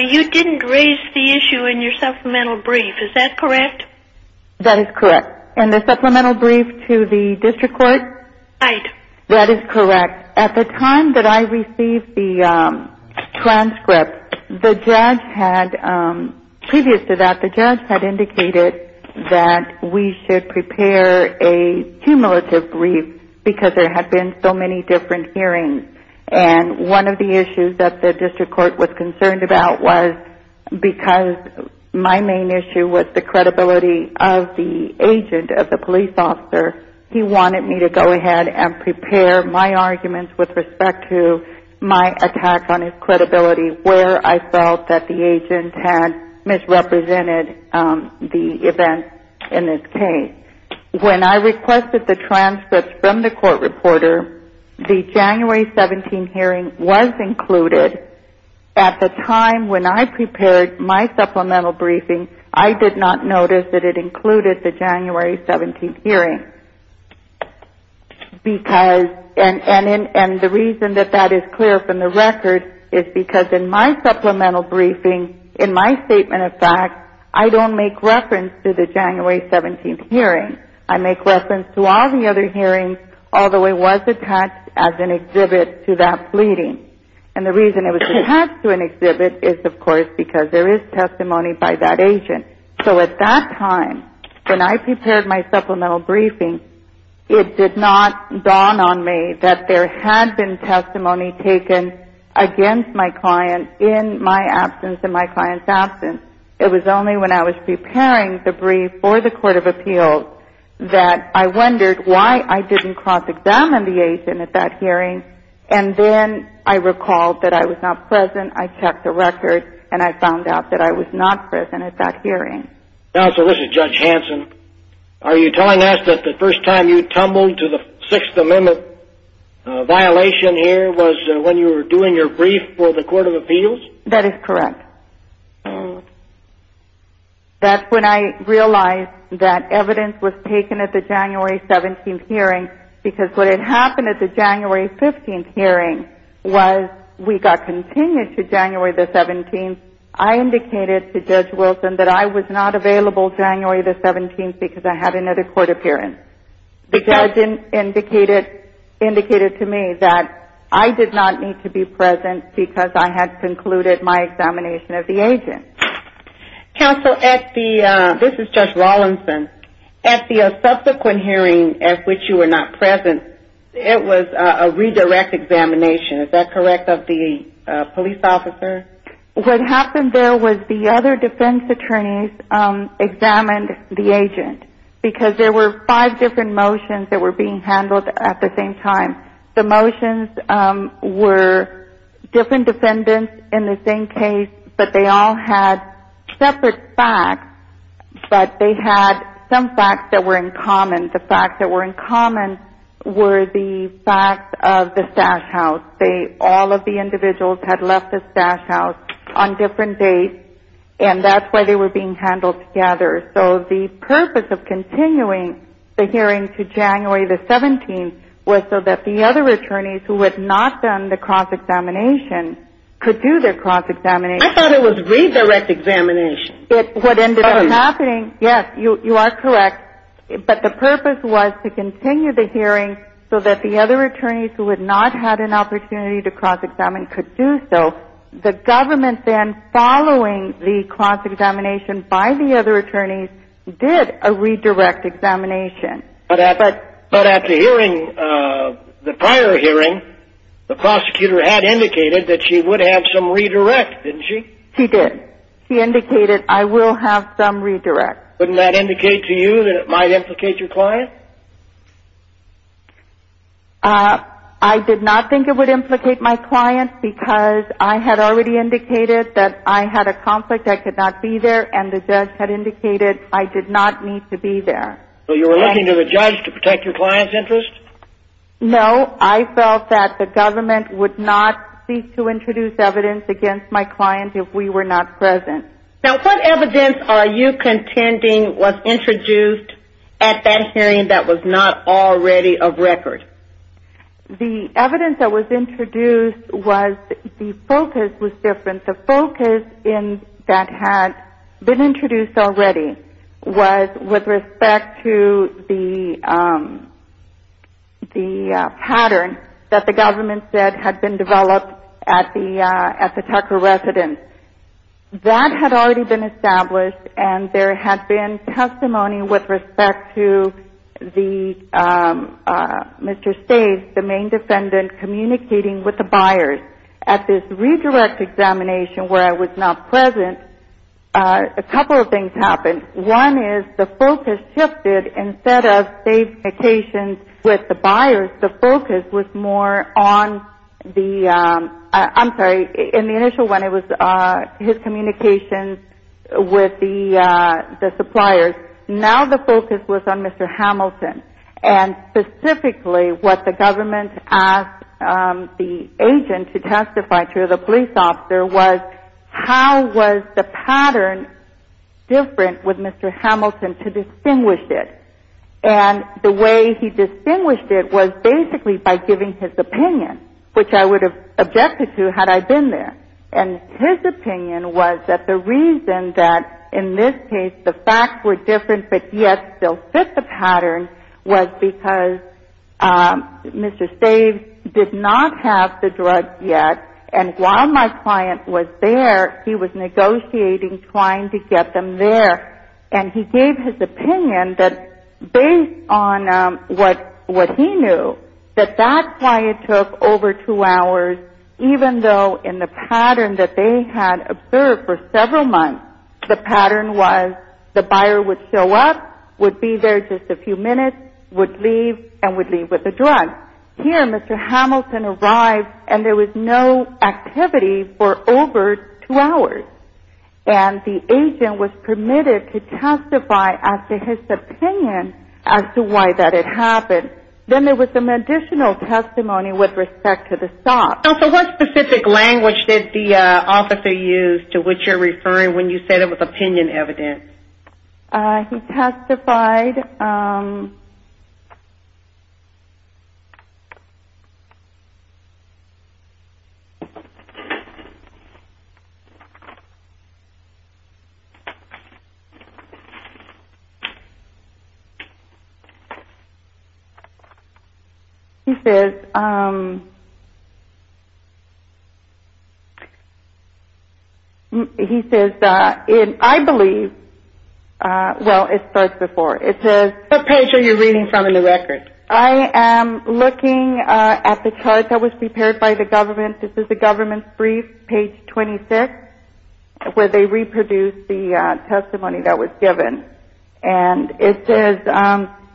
You didn't raise the issue in your supplemental brief, is that correct? That is correct. And the supplemental brief to the district court? Right. That is correct. At the time that I received the transcript, the judge had, previous to that, the judge had indicated that we should prepare a cumulative brief because there had been so many different hearings. And one of the issues that the district court was concerned about was, because my main issue was the credibility of the agent, of the police officer, he wanted me to go ahead and prepare my arguments with respect to my attack on his credibility, where I felt that the agent had misrepresented the events in this case. When I requested the transcripts from the court reporter, the January 17th hearing was included. At the time when I prepared my supplemental briefing, I did not notice that it included the January 17th hearing. And the reason that that is clear from the record is because in my supplemental briefing, in my statement of facts, I don't make reference to the January 17th hearing. I make reference to all the other hearings, although it was attached as an exhibit to that pleading. And the reason it was attached to an exhibit is, of course, because there is testimony by that agent. So at that time, when I prepared my supplemental briefing, it did not dawn on me that there had been testimony taken against my client in my absence and my client's absence. It was only when I was preparing the brief for the court of appeals that I wondered why I didn't cross-examine the agent at that hearing. And then I recalled that I was not present, I checked the record, and I found out that I was not present at that hearing. Counsel, this is Judge Hanson. Are you telling us that the first time you tumbled to the Sixth Amendment violation here was when you were doing your brief for the court of appeals? That is correct. That's when I realized that evidence was taken at the January 17th hearing because what had happened at the January 15th hearing was we got continued to January the 17th. And I indicated to Judge Wilson that I was not available January the 17th because I had another court appearance. The judge indicated to me that I did not need to be present because I had concluded my examination of the agent. Counsel, this is Judge Rawlinson. At the subsequent hearing at which you were not present, it was a redirect examination, is that correct, of the police officer? What happened there was the other defense attorneys examined the agent because there were five different motions that were being handled at the same time. The motions were different defendants in the same case, but they all had separate facts, but they had some facts that were in common. The facts that were in common were the facts of the stash house. All of the individuals had left the stash house on different dates, and that's why they were being handled together. So the purpose of continuing the hearing to January the 17th was so that the other attorneys who had not done the cross-examination could do their cross-examination. I thought it was redirect examination. What ended up happening, yes, you are correct, but the purpose was to continue the hearing so that the other attorneys who had not had an opportunity to cross-examine could do so. The government then, following the cross-examination by the other attorneys, did a redirect examination. But at the hearing, the prior hearing, the prosecutor had indicated that she would have some redirect, didn't she? She did. She indicated, I will have some redirect. Wouldn't that indicate to you that it might implicate your client? I did not think it would implicate my client because I had already indicated that I had a conflict, I could not be there, and the judge had indicated I did not need to be there. So you were looking to the judge to protect your client's interest? No, I felt that the government would not seek to introduce evidence against my client if we were not present. Now, what evidence are you contending was introduced at that hearing that was not already of record? The evidence that was introduced was the focus was different. The focus that had been introduced already was with respect to the pattern that the government said had been developed at the Tucker residence. That had already been established, and there had been testimony with respect to Mr. Staves, the main defendant, communicating with the buyers. At this redirect examination where I was not present, a couple of things happened. One is the focus shifted. Instead of Staves' communications with the buyers, the focus was more on the – I'm sorry, in the initial one it was his communications with the suppliers. Now the focus was on Mr. Hamilton, and specifically what the government asked the agent to testify to, the police officer, was how was the pattern different with Mr. Hamilton to distinguish it. And the way he distinguished it was basically by giving his opinion, which I would have objected to had I been there. And his opinion was that the reason that in this case the facts were different but yet still fit the pattern was because Mr. Staves did not have the drugs yet, and while my client was there, he was negotiating trying to get them there. And he gave his opinion that based on what he knew, that that's why it took over two hours, even though in the pattern that they had observed for several months, the pattern was the buyer would show up, would be there just a few minutes, would leave, and would leave with the drugs. Here Mr. Hamilton arrived and there was no activity for over two hours. And the agent was permitted to testify after his opinion as to why that had happened. Then there was some additional testimony with respect to the stop. So what specific language did the officer use to which you're referring when you said it was opinion evidence? He testified. He testified. He testified. What page are you reading from in the record? I am looking at the chart that was prepared by the government. This is the government's brief, page 26, where they reproduced the testimony that was given. And it says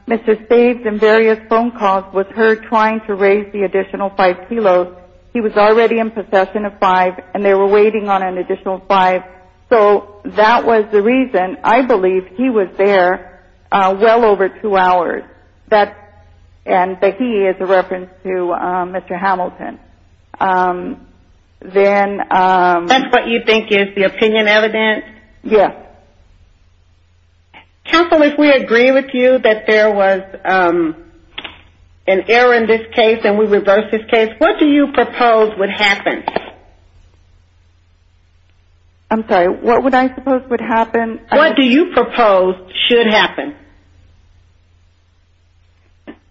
Mr. Staves in various phone calls was heard trying to raise the additional five kilos. He was already in possession of five and they were waiting on an additional five. So that was the reason I believe he was there well over two hours. And he is a reference to Mr. Hamilton. That's what you think is the opinion evidence? Yes. Counsel, if we agree with you that there was an error in this case and we reversed this case, what do you propose would happen? I'm sorry, what would I suppose would happen? What do you propose should happen?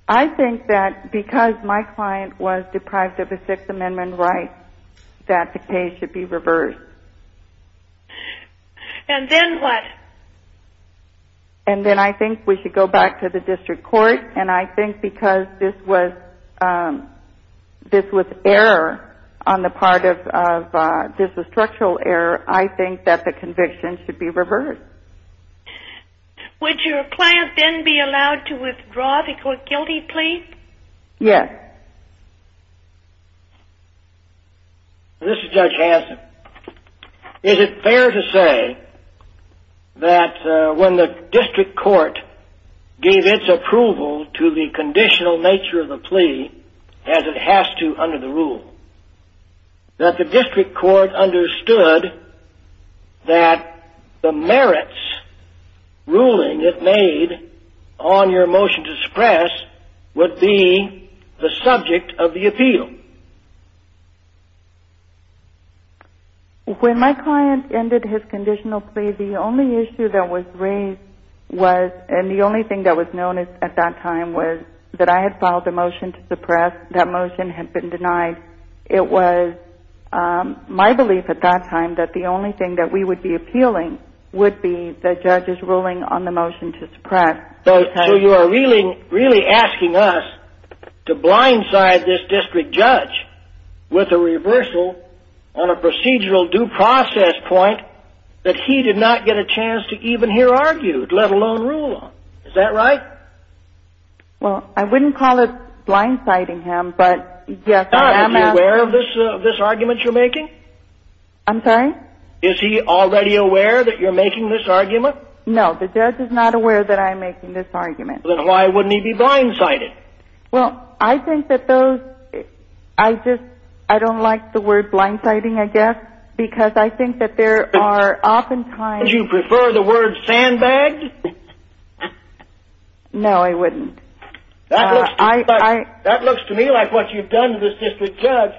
I think that because my client was deprived of a Sixth Amendment right that the case should be reversed. And then what? And then I think we should go back to the district court. And I think because this was error on the part of, this was structural error, I think that the conviction should be reversed. Would your client then be allowed to withdraw the guilty plea? Yes. Okay. This is Judge Hanson. Is it fair to say that when the district court gave its approval to the conditional nature of the plea, as it has to under the rule, that the district court understood that the merits ruling it made on your motion to suppress would be the subject of the appeal? When my client ended his conditional plea, the only issue that was raised was, and the only thing that was known at that time was that I had filed a motion to suppress. That motion had been denied. It was my belief at that time that the only thing that we would be appealing would be the judge's ruling on the motion to suppress. So you are really asking us to blindside this district judge with a reversal on a procedural due process point that he did not get a chance to even hear argued, let alone rule on. Is that right? Well, I wouldn't call it blindsiding him, but yes, I am asking... Now, is he aware of this argument you're making? I'm sorry? Is he already aware that you're making this argument? No. The judge is not aware that I'm making this argument. Then why wouldn't he be blindsided? Well, I think that those... I just... I don't like the word blindsiding, I guess, because I think that there are oftentimes... Wouldn't you prefer the word sandbagged? No, I wouldn't. That looks to me like what you've done to this district judge.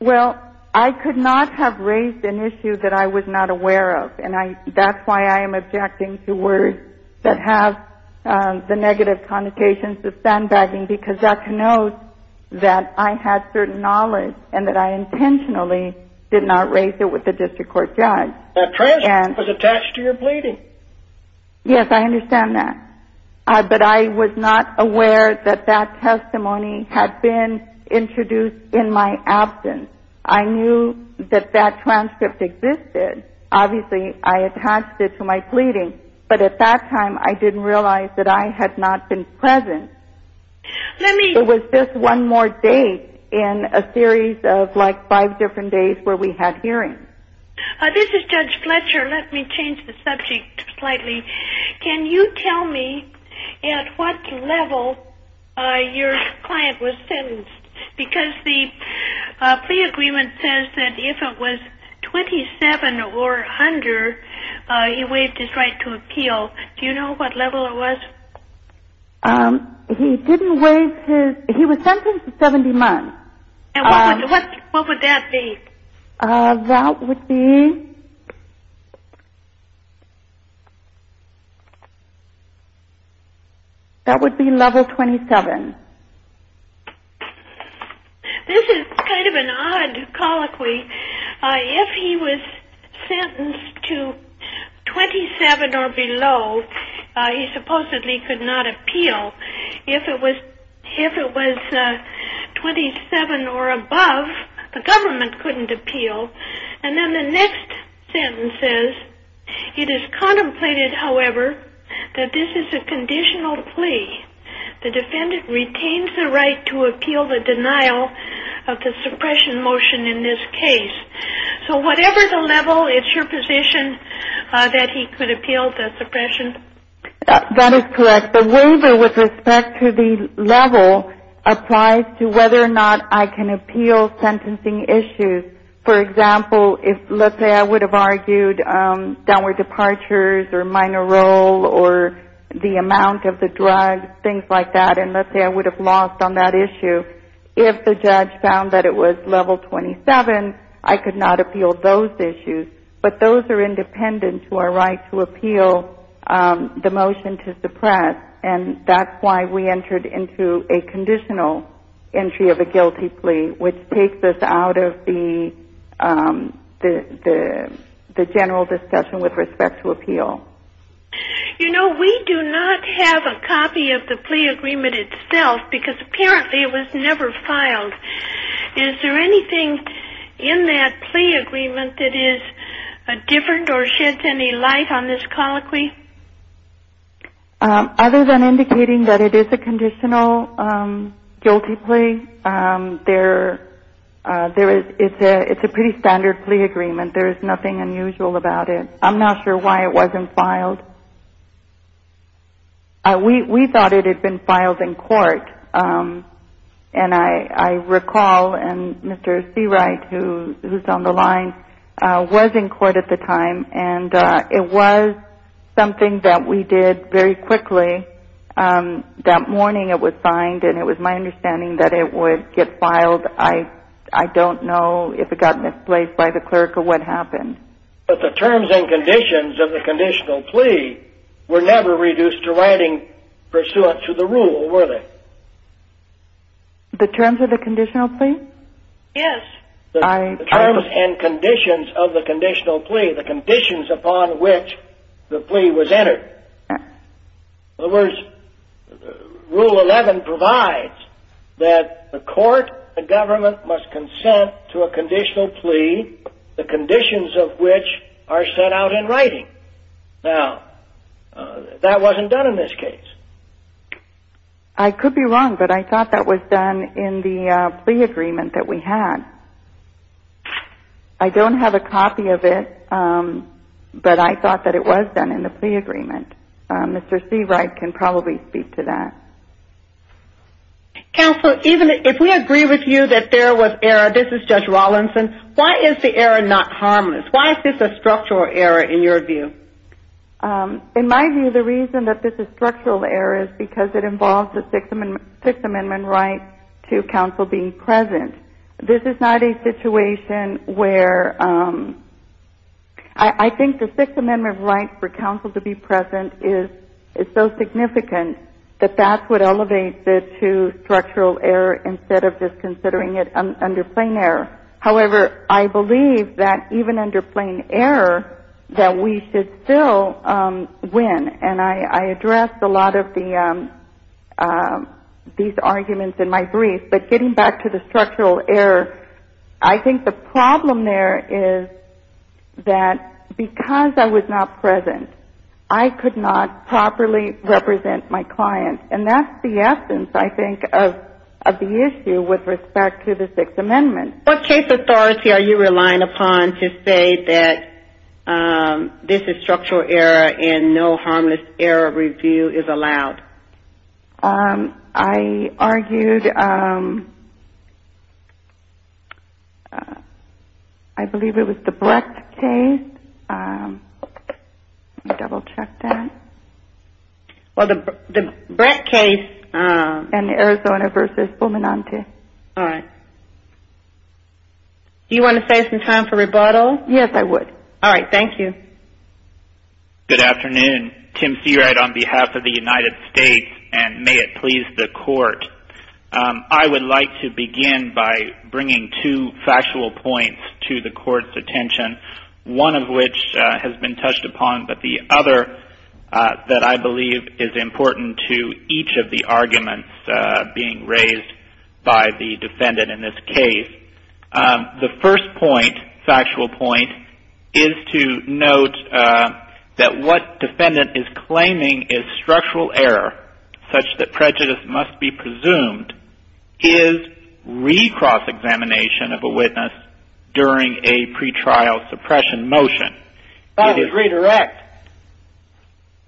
Well, I could not have raised an issue that I was not aware of, and that's why I am objecting to words that have the negative connotations of sandbagging, because that connotes that I had certain knowledge and that I intentionally did not raise it with the district court judge. That transcript was attached to your pleading. Yes, I understand that, but I was not aware that that testimony had been introduced in my absence. I knew that that transcript existed. Obviously, I attached it to my pleading, but at that time, I didn't realize that I had not been present. Let me... So was this one more date in a series of, like, five different days where we had hearings? This is Judge Fletcher. Let me change the subject slightly. Can you tell me at what level your client was sentenced? Because the plea agreement says that if it was 27 or under, he waived his right to appeal. Do you know what level it was? He didn't waive his... He was sentenced to 70 months. What would that be? That would be... That would be level 27. This is kind of an odd colloquy. If he was sentenced to 27 or below, he supposedly could not appeal. If it was 27 or above, the government couldn't appeal. And then the next sentence says, It is contemplated, however, that this is a conditional plea. The defendant retains the right to appeal the denial of the suppression motion in this case. So whatever the level, it's your position that he could appeal the suppression? That is correct. But the waiver with respect to the level applies to whether or not I can appeal sentencing issues. For example, let's say I would have argued downward departures or minor role or the amount of the drug, things like that. And let's say I would have lost on that issue. If the judge found that it was level 27, I could not appeal those issues. But those are independent to our right to appeal the motion to suppress. And that's why we entered into a conditional entry of a guilty plea, which takes us out of the general discussion with respect to appeal. You know, we do not have a copy of the plea agreement itself because apparently it was never filed. Is there anything in that plea agreement that is different or sheds any light on this colloquy? Other than indicating that it is a conditional guilty plea, it's a pretty standard plea agreement. There is nothing unusual about it. I'm not sure why it wasn't filed. We thought it had been filed in court. And I recall, and Mr. Seawright, who is on the line, was in court at the time. And it was something that we did very quickly. That morning it was signed, and it was my understanding that it would get filed. I don't know if it got misplaced by the clerk or what happened. But the terms and conditions of the conditional plea were never reduced to writing pursuant to the rule, were they? The terms of the conditional plea? Yes. The terms and conditions of the conditional plea, the conditions upon which the plea was entered. In other words, Rule 11 provides that the court, the government must consent to a conditional plea, the conditions of which are set out in writing. Now, that wasn't done in this case. I could be wrong, but I thought that was done in the plea agreement that we had. I don't have a copy of it, but I thought that it was done in the plea agreement. Mr. Seawright can probably speak to that. Counsel, if we agree with you that there was error, this is Judge Rawlinson, why is the error not harmless? Why is this a structural error in your view? In my view, the reason that this is a structural error is because it involves the Sixth Amendment right to counsel being present. This is not a situation where I think the Sixth Amendment right for counsel to be present is so significant that that's what elevates it to structural error instead of just considering it under plain error. However, I believe that even under plain error that we should still win. I addressed a lot of these arguments in my brief, but getting back to the structural error, I think the problem there is that because I was not present, I could not properly represent my client. That's the essence, I think, of the issue with respect to the Sixth Amendment. What case authority are you relying upon to say that this is structural error and no harmless error review is allowed? I argued, I believe it was the Brett case. Let me double check that. Well, the Brett case. And the Arizona versus Fulminante. Okay. All right. Do you want to save some time for rebuttal? Yes, I would. All right. Thank you. Good afternoon. Tim Seawright on behalf of the United States, and may it please the Court. I would like to begin by bringing two factual points to the Court's attention, one of which has been touched upon, but the other that I believe is important to each of the arguments being raised by the defendant in this case. The first point, factual point, is to note that what defendant is claiming is structural error, such that prejudice must be presumed, is recross examination of a witness during a pretrial suppression motion. That was redirect.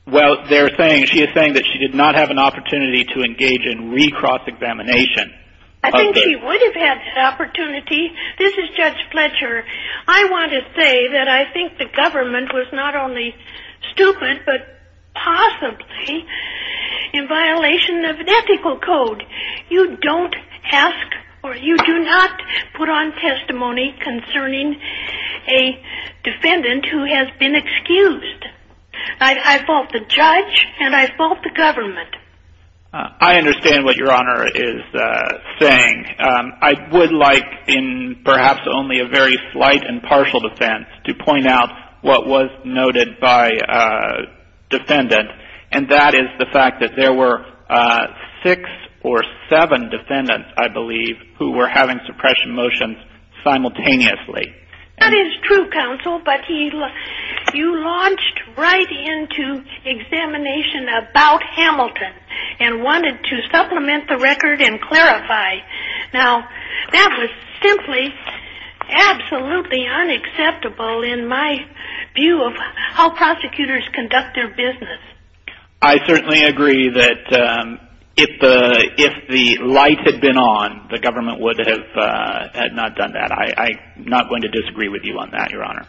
Well, she is saying that she did not have an opportunity to engage in recross examination. I think she would have had that opportunity. This is Judge Fletcher. I want to say that I think the government was not only stupid, but possibly in violation of an ethical code. You don't ask or you do not put on testimony concerning a defendant who has been excused. I fault the judge and I fault the government. I understand what Your Honor is saying. I would like, in perhaps only a very slight and partial defense, to point out what was noted by defendant, and that is the fact that there were six or seven defendants, I believe, who were having suppression motions simultaneously. That is true, counsel, but you launched right into examination about Hamilton and wanted to supplement the record and clarify. Now, that was simply absolutely unacceptable in my view of how prosecutors conduct their business. I certainly agree that if the light had been on, the government would have not done that. I am not going to disagree with you on that, Your Honor.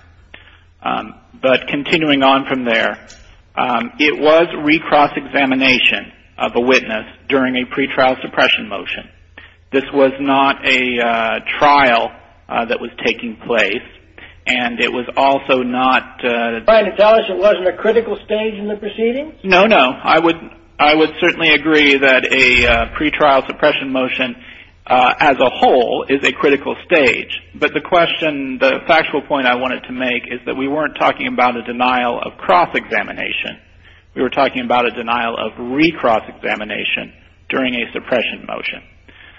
But continuing on from there, it was recross-examination of a witness during a pretrial suppression motion. This was not a trial that was taking place, and it was also not- Are you trying to tell us it wasn't a critical stage in the proceedings? No, no. I would certainly agree that a pretrial suppression motion as a whole is a critical stage, but the factual point I wanted to make is that we weren't talking about a denial of cross-examination. We were talking about a denial of recross-examination during a suppression motion.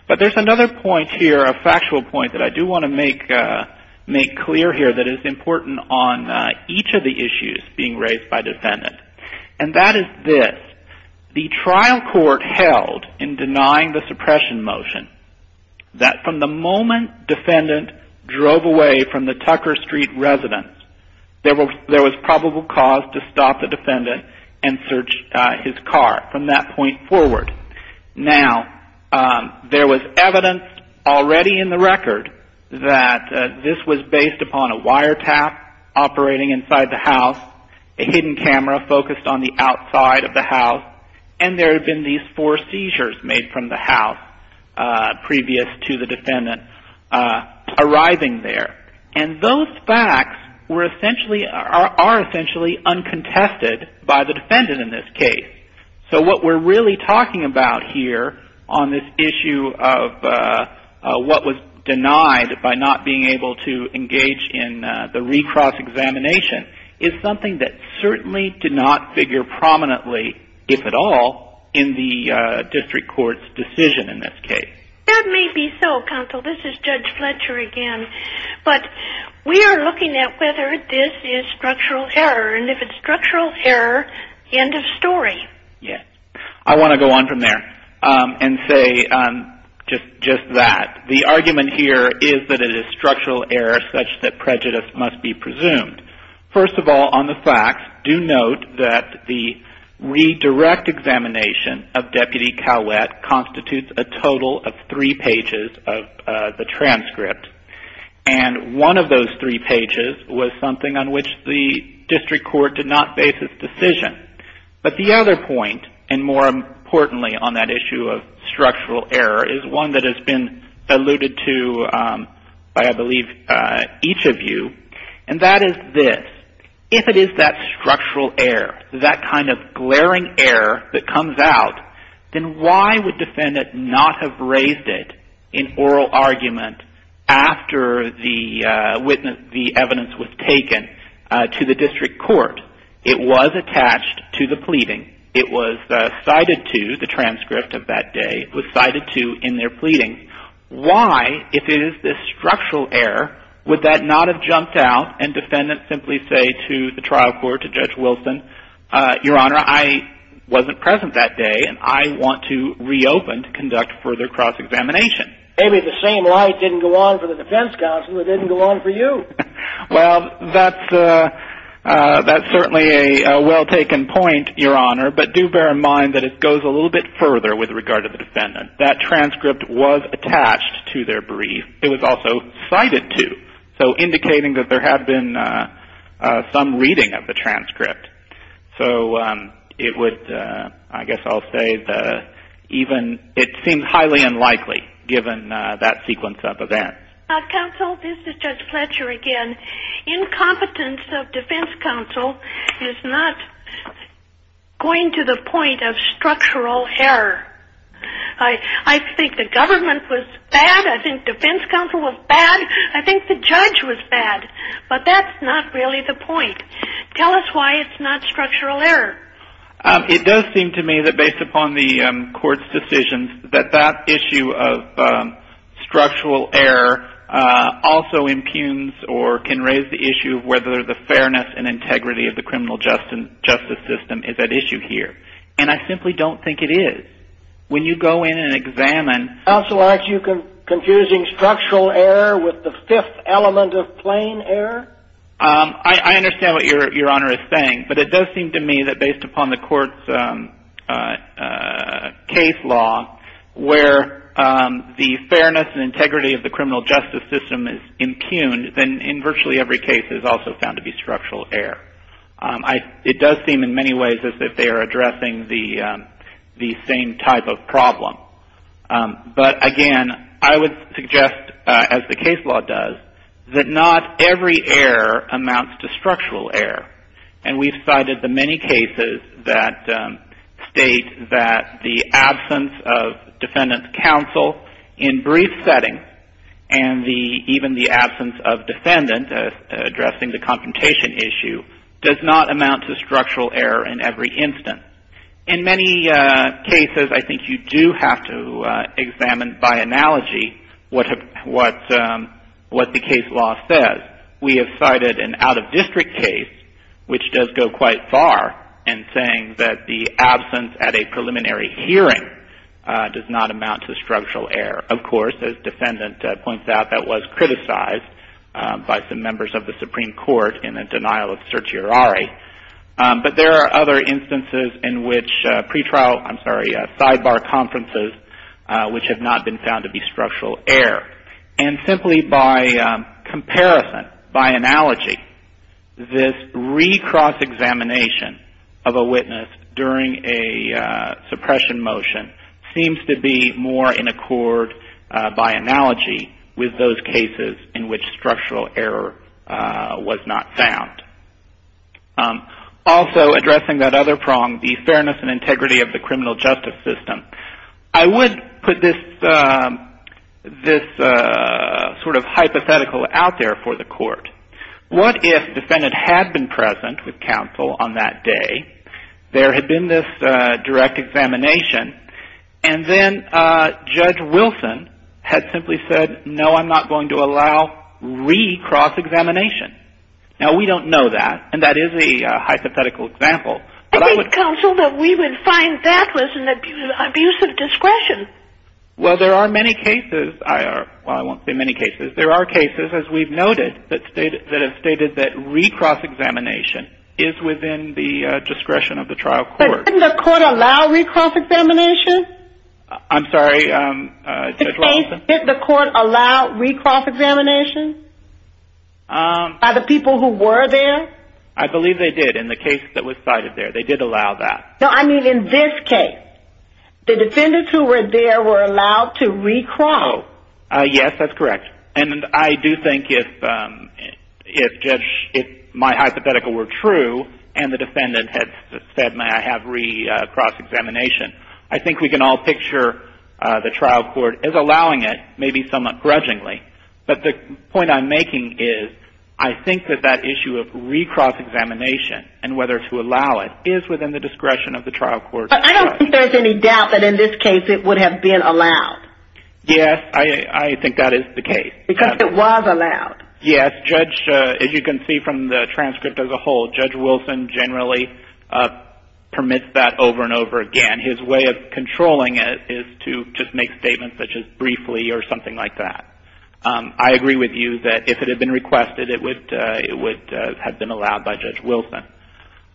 But there's another point here, a factual point, that I do want to make clear here that is important on each of the issues being raised by defendant, and that is this. The trial court held in denying the suppression motion that from the moment defendant drove away from the Tucker Street residence, there was probable cause to stop the defendant and search his car from that point forward. Now, there was evidence already in the record that this was based upon a wiretap operating inside the house, a hidden camera focused on the outside of the house, and there had been these four seizures made from the house previous to the defendant arriving there. And those facts are essentially uncontested by the defendant in this case. So what we're really talking about here on this issue of what was denied by not being able to engage in the recross-examination is something that certainly did not figure prominently, if at all, in the district court's decision in this case. That may be so, counsel. This is Judge Fletcher again. But we are looking at whether this is structural error, and if it's structural error, end of story. Yes. I want to go on from there and say just that. The argument here is that it is structural error such that prejudice must be presumed. First of all, on the facts, do note that the redirect examination of Deputy Cowett constitutes a total of three pages of the transcript. And one of those three pages was something on which the district court did not base its decision. But the other point, and more importantly on that issue of structural error, is one that has been alluded to by, I believe, each of you. And that is this. If it is that structural error, that kind of glaring error that comes out, then why would the defendant not have raised it in oral argument after the evidence was taken to the district court? It was attached to the pleading. It was cited to the transcript of that day. It was cited to in their pleading. Why, if it is this structural error, would that not have jumped out and defendants simply say to the trial court, to Judge Wilson, Your Honor, I wasn't present that day, and I want to reopen to conduct further cross-examination? Maybe the same light didn't go on for the defense counsel, it didn't go on for you. Well, that's certainly a well-taken point, Your Honor. But do bear in mind that it goes a little bit further with regard to the defendant. That transcript was attached to their brief. It was also cited to, so indicating that there had been some reading of the transcript. So it would, I guess I'll say, even, it seems highly unlikely, given that sequence of events. Counsel, this is Judge Fletcher again. Incompetence of defense counsel is not going to the point of structural error. I think the government was bad. I think defense counsel was bad. I think the judge was bad. But that's not really the point. Tell us why it's not structural error. It does seem to me that, based upon the court's decisions, that that issue of structural error also impugns or can raise the issue of whether the fairness and integrity of the criminal justice system is at issue here. And I simply don't think it is. When you go in and examine... Counsel, aren't you confusing structural error with the fifth element of plain error? I understand what Your Honor is saying. But it does seem to me that, based upon the court's case law, where the fairness and integrity of the criminal justice system is impugned, then in virtually every case is also found to be structural error. It does seem in many ways as if they are addressing the same type of problem. But, again, I would suggest, as the case law does, that not every error amounts to structural error. And we've cited the many cases that state that the absence of defendant counsel in brief settings and even the absence of defendant addressing the confrontation issue does not amount to structural error in every instance. In many cases, I think you do have to examine by analogy what the case law says. We have cited an out-of-district case, which does go quite far, in saying that the absence at a preliminary hearing does not amount to structural error. Of course, as defendant points out, that was criticized by some members of the Supreme Court in a denial of certiorari. But there are other instances in which sidebar conferences, which have not been found to be structural error. And simply by comparison, by analogy, this re-cross-examination of a witness during a suppression motion seems to be more in accord, by analogy, with those cases in which structural error was not found. Also, addressing that other prong, the fairness and integrity of the criminal justice system, I would put this sort of hypothetical out there for the court. What if defendant had been present with counsel on that day, there had been this direct examination, and then Judge Wilson had simply said, no, I'm not going to allow re-cross-examination. Now, we don't know that, and that is a hypothetical example. I think, counsel, that we would find that was an abuse of discretion. Well, there are many cases. Well, I won't say many cases. There are cases, as we've noted, that have stated that re-cross-examination is within the discretion of the trial court. But didn't the court allow re-cross-examination? I'm sorry, Judge Wilson? Did the court allow re-cross-examination by the people who were there? I believe they did in the case that was cited there. They did allow that. No, I mean in this case. The defendants who were there were allowed to re-cross. Yes, that's correct. And I do think if my hypothetical were true, and the defendant had said, may I have re-cross-examination, I think we can all picture the trial court as allowing it, maybe somewhat grudgingly. But the point I'm making is, I think that that issue of re-cross-examination and whether to allow it is within the discretion of the trial court. But I don't think there's any doubt that in this case it would have been allowed. Yes, I think that is the case. Because it was allowed. Yes, Judge, as you can see from the transcript as a whole, Judge Wilson generally permits that over and over again. His way of controlling it is to just make statements such as briefly or something like that. I agree with you that if it had been requested, it would have been allowed by Judge Wilson.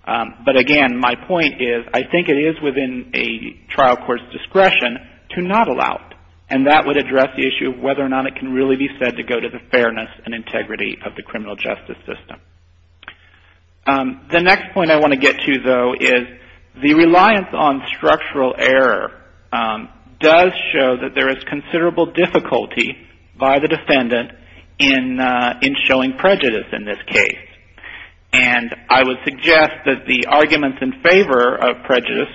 But again, my point is, I think it is within a trial court's discretion to not allow it. And that would address the issue of whether or not it can really be said to go to the fairness and integrity of the criminal justice system. The next point I want to get to, though, is the reliance on structural error does show that there is considerable difficulty by the defendant in showing prejudice in this case. And I would suggest that the arguments in favor of prejudice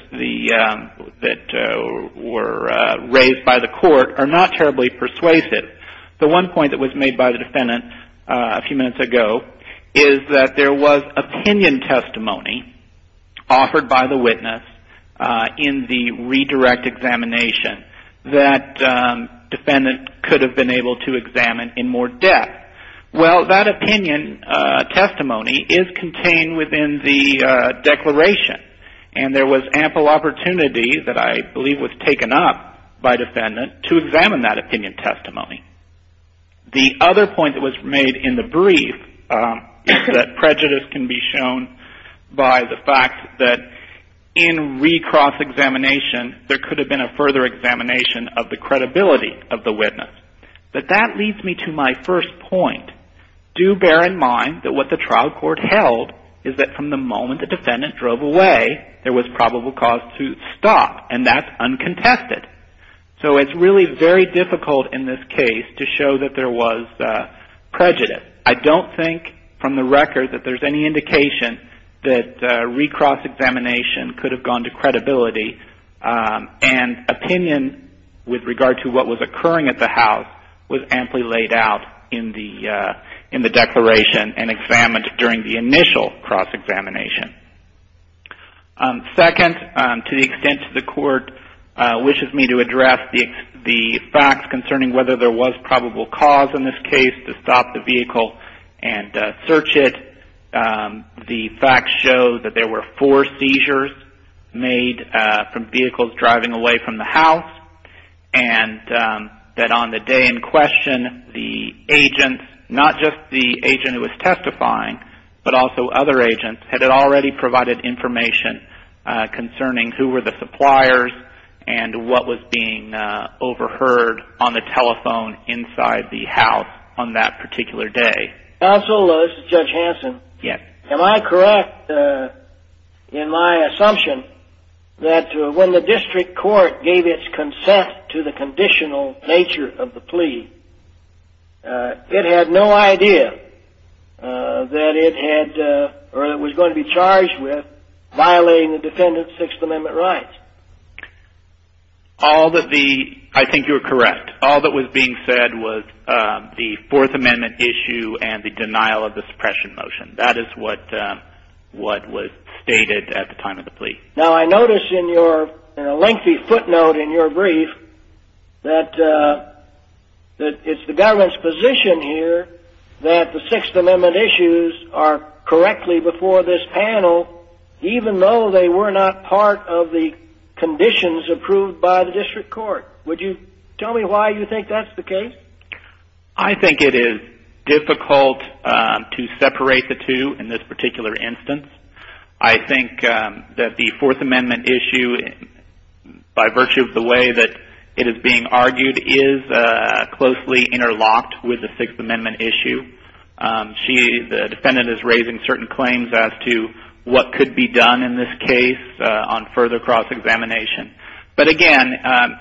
that were raised by the court are not terribly persuasive. The one point that was made by the defendant a few minutes ago is that there was opinion testimony offered by the witness in the redirect examination that defendant could have been able to examine in more depth. Well, that opinion testimony is contained within the declaration. And there was ample opportunity that I believe was taken up by defendant to examine that opinion testimony. The other point that was made in the brief is that prejudice can be shown by the fact that in recross examination, there could have been a further examination of the credibility of the witness. But that leads me to my first point. Do bear in mind that what the trial court held is that from the moment the defendant drove away, there was probable cause to stop. And that's uncontested. So it's really very difficult in this case to show that there was prejudice. First, I don't think from the record that there's any indication that recross examination could have gone to credibility. And opinion with regard to what was occurring at the house was amply laid out in the declaration and examined during the initial cross examination. Second, to the extent that the court wishes me to address the facts concerning whether there was probable cause in this case to stop the vehicle and search it, the facts show that there were four seizures made from vehicles driving away from the house. And that on the day in question, the agents, not just the agent who was testifying, but also other agents, had already provided information concerning who were the suppliers and what was being overheard on the telephone inside the house on that particular day. Counsel, this is Judge Hanson. Yes. Am I correct in my assumption that when the district court gave its consent to the conditional nature of the plea, it had no idea that it was going to be charged with violating the defendant's Sixth Amendment rights? I think you're correct. All that was being said was the Fourth Amendment issue and the denial of the suppression motion. That is what was stated at the time of the plea. Now, I notice in a lengthy footnote in your brief that it's the government's position here that the Sixth Amendment issues are correctly before this panel, even though they were not part of the conditions approved by the district court. Would you tell me why you think that's the case? I think it is difficult to separate the two in this particular instance. I think that the Fourth Amendment issue, by virtue of the way that it is being argued, is closely interlocked with the Sixth Amendment issue. The defendant is raising certain claims as to what could be done in this case on further cross-examination. But again,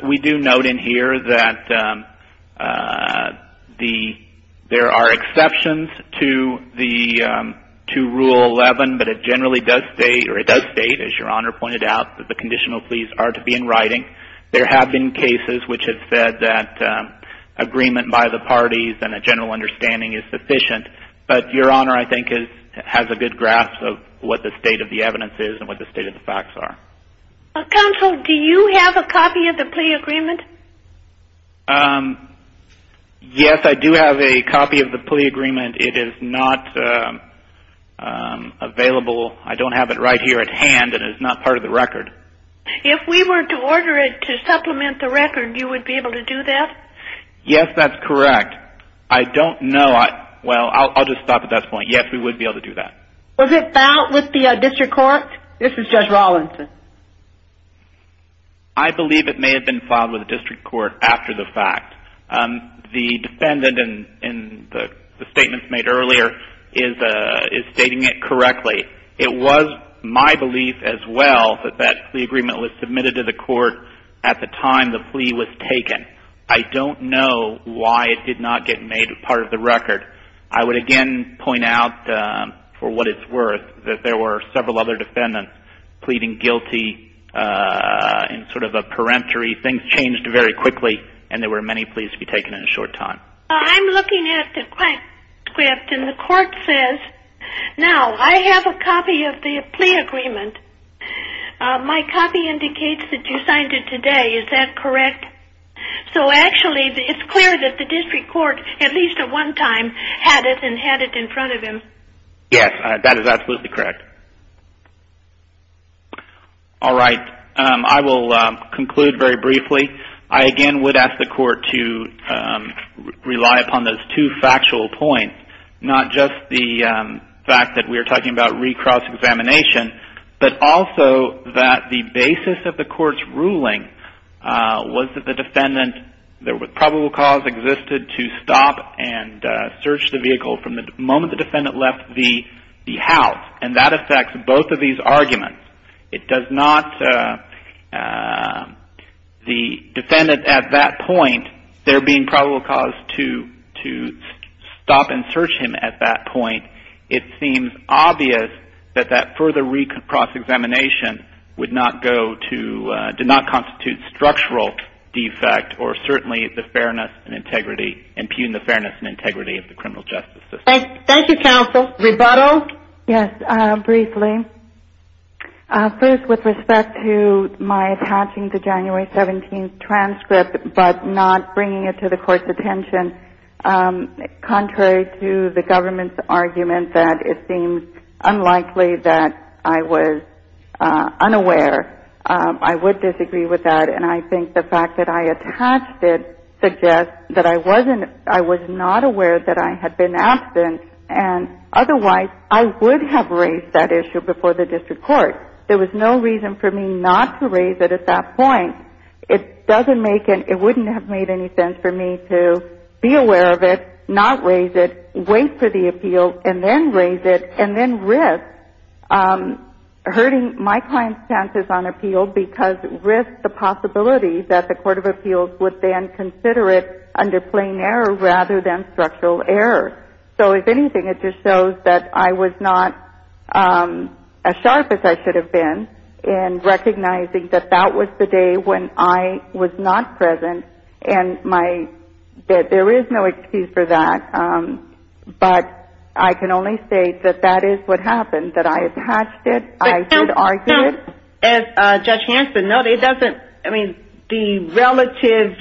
we do note in here that there are exceptions to Rule 11, but it generally does state, or it does state, as Your Honor pointed out, that the conditional pleas are to be in writing. There have been cases which have said that agreement by the parties and a general understanding is sufficient. But Your Honor, I think, has a good grasp of what the state of the evidence is and what the state of the facts are. Counsel, do you have a copy of the plea agreement? Yes, I do have a copy of the plea agreement. It is not available. I don't have it right here at hand, and it is not part of the record. If we were to order it to supplement the record, you would be able to do that? Yes, that's correct. I don't know. Well, I'll just stop at that point. Yes, we would be able to do that. Was it filed with the district court? This is Judge Rawlinson. I believe it may have been filed with the district court after the fact. The defendant, in the statements made earlier, is stating it correctly. It was my belief as well that that plea agreement was submitted to the court at the time the plea was taken. I don't know why it did not get made part of the record. I would again point out, for what it's worth, that there were several other defendants pleading guilty in sort of a peremptory. Things changed very quickly, and there were many pleas to be taken in a short time. I'm looking at the transcript, and the court says, now, I have a copy of the plea agreement. My copy indicates that you signed it today. Is that correct? Yes. So, actually, it's clear that the district court, at least at one time, had it and had it in front of him. Yes, that is absolutely correct. All right. I will conclude very briefly. I again would ask the court to rely upon those two factual points, not just the fact that we are talking about recross examination, but also that the basis of the court's ruling was that the defendant, there was probable cause existed to stop and search the vehicle from the moment the defendant left the house. And that affects both of these arguments. It does not, the defendant at that point, there being probable cause to stop and search him at that point, it seems obvious that that further recross examination would not go to, did not constitute structural defect, or certainly impugn the fairness and integrity of the criminal justice system. Thank you, counsel. Rebuttal? Yes, briefly. First, with respect to my attaching the January 17th transcript, but not bringing it to the court's attention, contrary to the government's argument that it seems unlikely that I was unaware, I would disagree with that. And I think the fact that I attached it suggests that I was not aware that I had been absent, and otherwise I would have raised that issue before the district court. There was no reason for me not to raise it at that point. It doesn't make it, it wouldn't have made any sense for me to be aware of it, not raise it, wait for the appeal, and then raise it, and then risk hurting my client's chances on appeal, because risk the possibility that the court of appeals would then consider it under plain error rather than structural error. So, if anything, it just shows that I was not as sharp as I should have been in recognizing that that was the day when I was not present, and there is no excuse for that. But I can only say that that is what happened, that I attached it, I did argue it. As Judge Hanson noted, it doesn't, I mean, the relative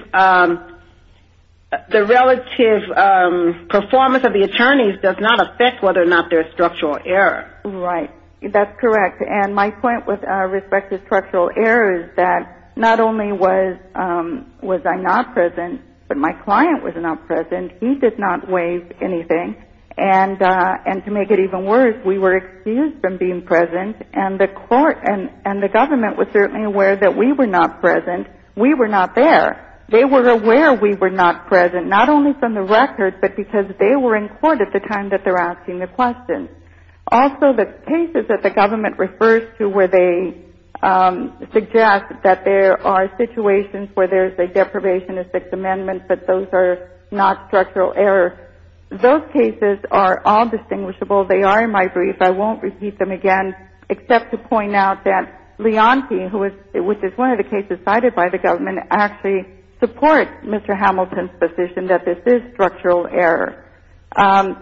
performance of the attorneys does not affect whether or not there is structural error. Right, that's correct, and my point with respect to structural error is that not only was I not present, but my client was not present, he did not waive anything, and to make it even worse, we were excused from being present, and the government was certainly aware that we were not present, we were not there. They were aware we were not present, not only from the record, but because they were in court at the time that they're asking the question. Also, the cases that the government refers to where they suggest that there are situations where there's a deprivation of Sixth Amendment, but those are not structural error, those cases are all distinguishable. They are in my brief. I won't repeat them again except to point out that Leontie, which is one of the cases cited by the government, actually supports Mr. Hamilton's position that this is structural error.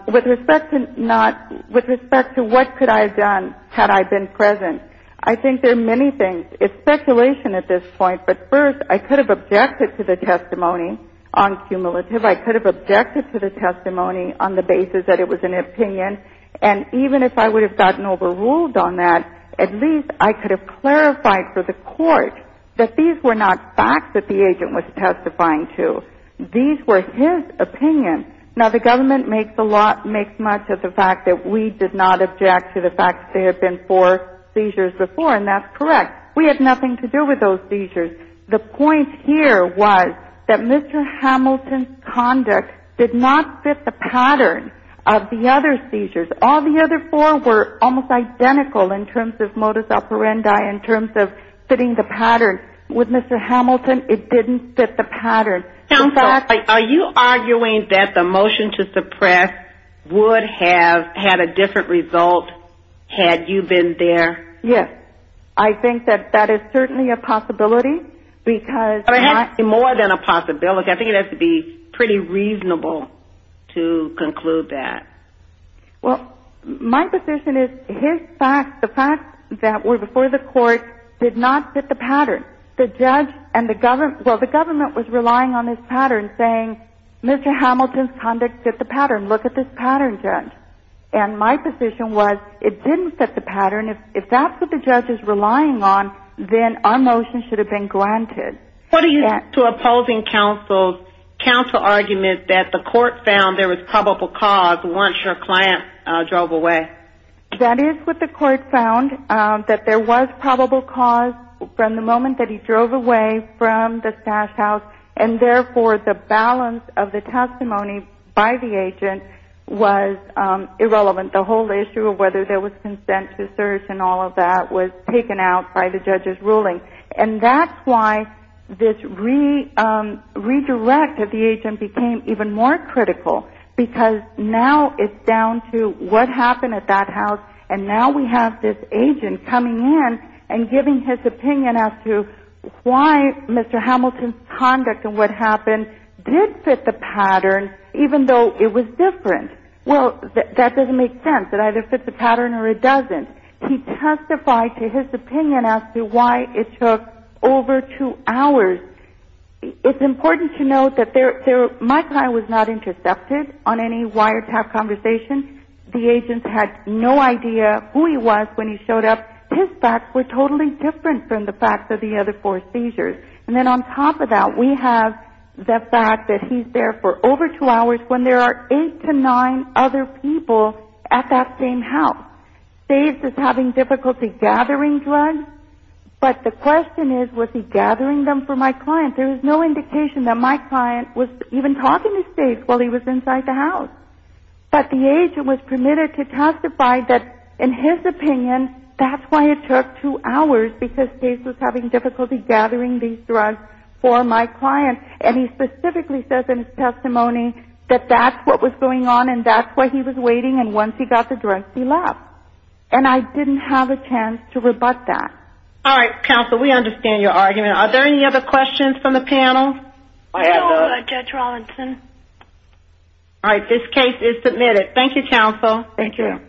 With respect to not, with respect to what could I have done had I been present, I think there are many things. It's speculation at this point, but first, I could have objected to the testimony on cumulative. I could have objected to the testimony on the basis that it was an opinion, and even if I would have gotten overruled on that, at least I could have clarified for the court that these were not facts that the agent was testifying to. These were his opinions. Now, the government makes a lot, makes much of the fact that we did not object to the fact that there had been four seizures before, and that's correct. We had nothing to do with those seizures. The point here was that Mr. Hamilton's conduct did not fit the pattern of the other seizures. All the other four were almost identical in terms of modus operandi, in terms of fitting the pattern. With Mr. Hamilton, it didn't fit the pattern. Are you arguing that the motion to suppress would have had a different result had you been there? Yes. I think that that is certainly a possibility. But it has to be more than a possibility. I think it has to be pretty reasonable to conclude that. Well, my position is his facts, the facts that were before the court, did not fit the pattern. The judge and the government, well, the government was relying on this pattern, saying, Mr. Hamilton's conduct fit the pattern. Look at this pattern, judge. And my position was it didn't fit the pattern. If that's what the judge is relying on, then our motion should have been granted. What do you say to opposing counsel's counsel argument that the court found there was probable cause once your client drove away? That is what the court found, that there was probable cause from the moment that he drove away from the stash house, and therefore the balance of the testimony by the agent was irrelevant. The whole issue of whether there was consent to search and all of that was taken out by the judge's ruling. And that's why this redirect of the agent became even more critical, because now it's down to what happened at that house, and now we have this agent coming in and giving his opinion as to why Mr. Hamilton's conduct and what happened did fit the pattern, even though it was different. Well, that doesn't make sense. It either fits the pattern or it doesn't. He testified to his opinion as to why it took over two hours. It's important to note that my client was not intercepted on any wiretap conversation. The agent had no idea who he was when he showed up. His facts were totally different from the facts of the other four seizures. And then on top of that, we have the fact that he's there for over two hours when there are eight to nine other people at that same house. Dave is having difficulty gathering drugs, but the question is, was he gathering them for my client? There is no indication that my client was even talking to Dave while he was inside the house. But the agent was permitted to testify that, in his opinion, that's why it took two hours, because Dave was having difficulty gathering these drugs for my client. And he specifically says in his testimony that that's what was going on and that's why he was waiting, and once he got the drugs, he left. And I didn't have a chance to rebut that. All right, counsel, we understand your argument. Are there any other questions from the panel? No, Judge Robinson. All right, this case is submitted. Thank you, counsel. Thank you.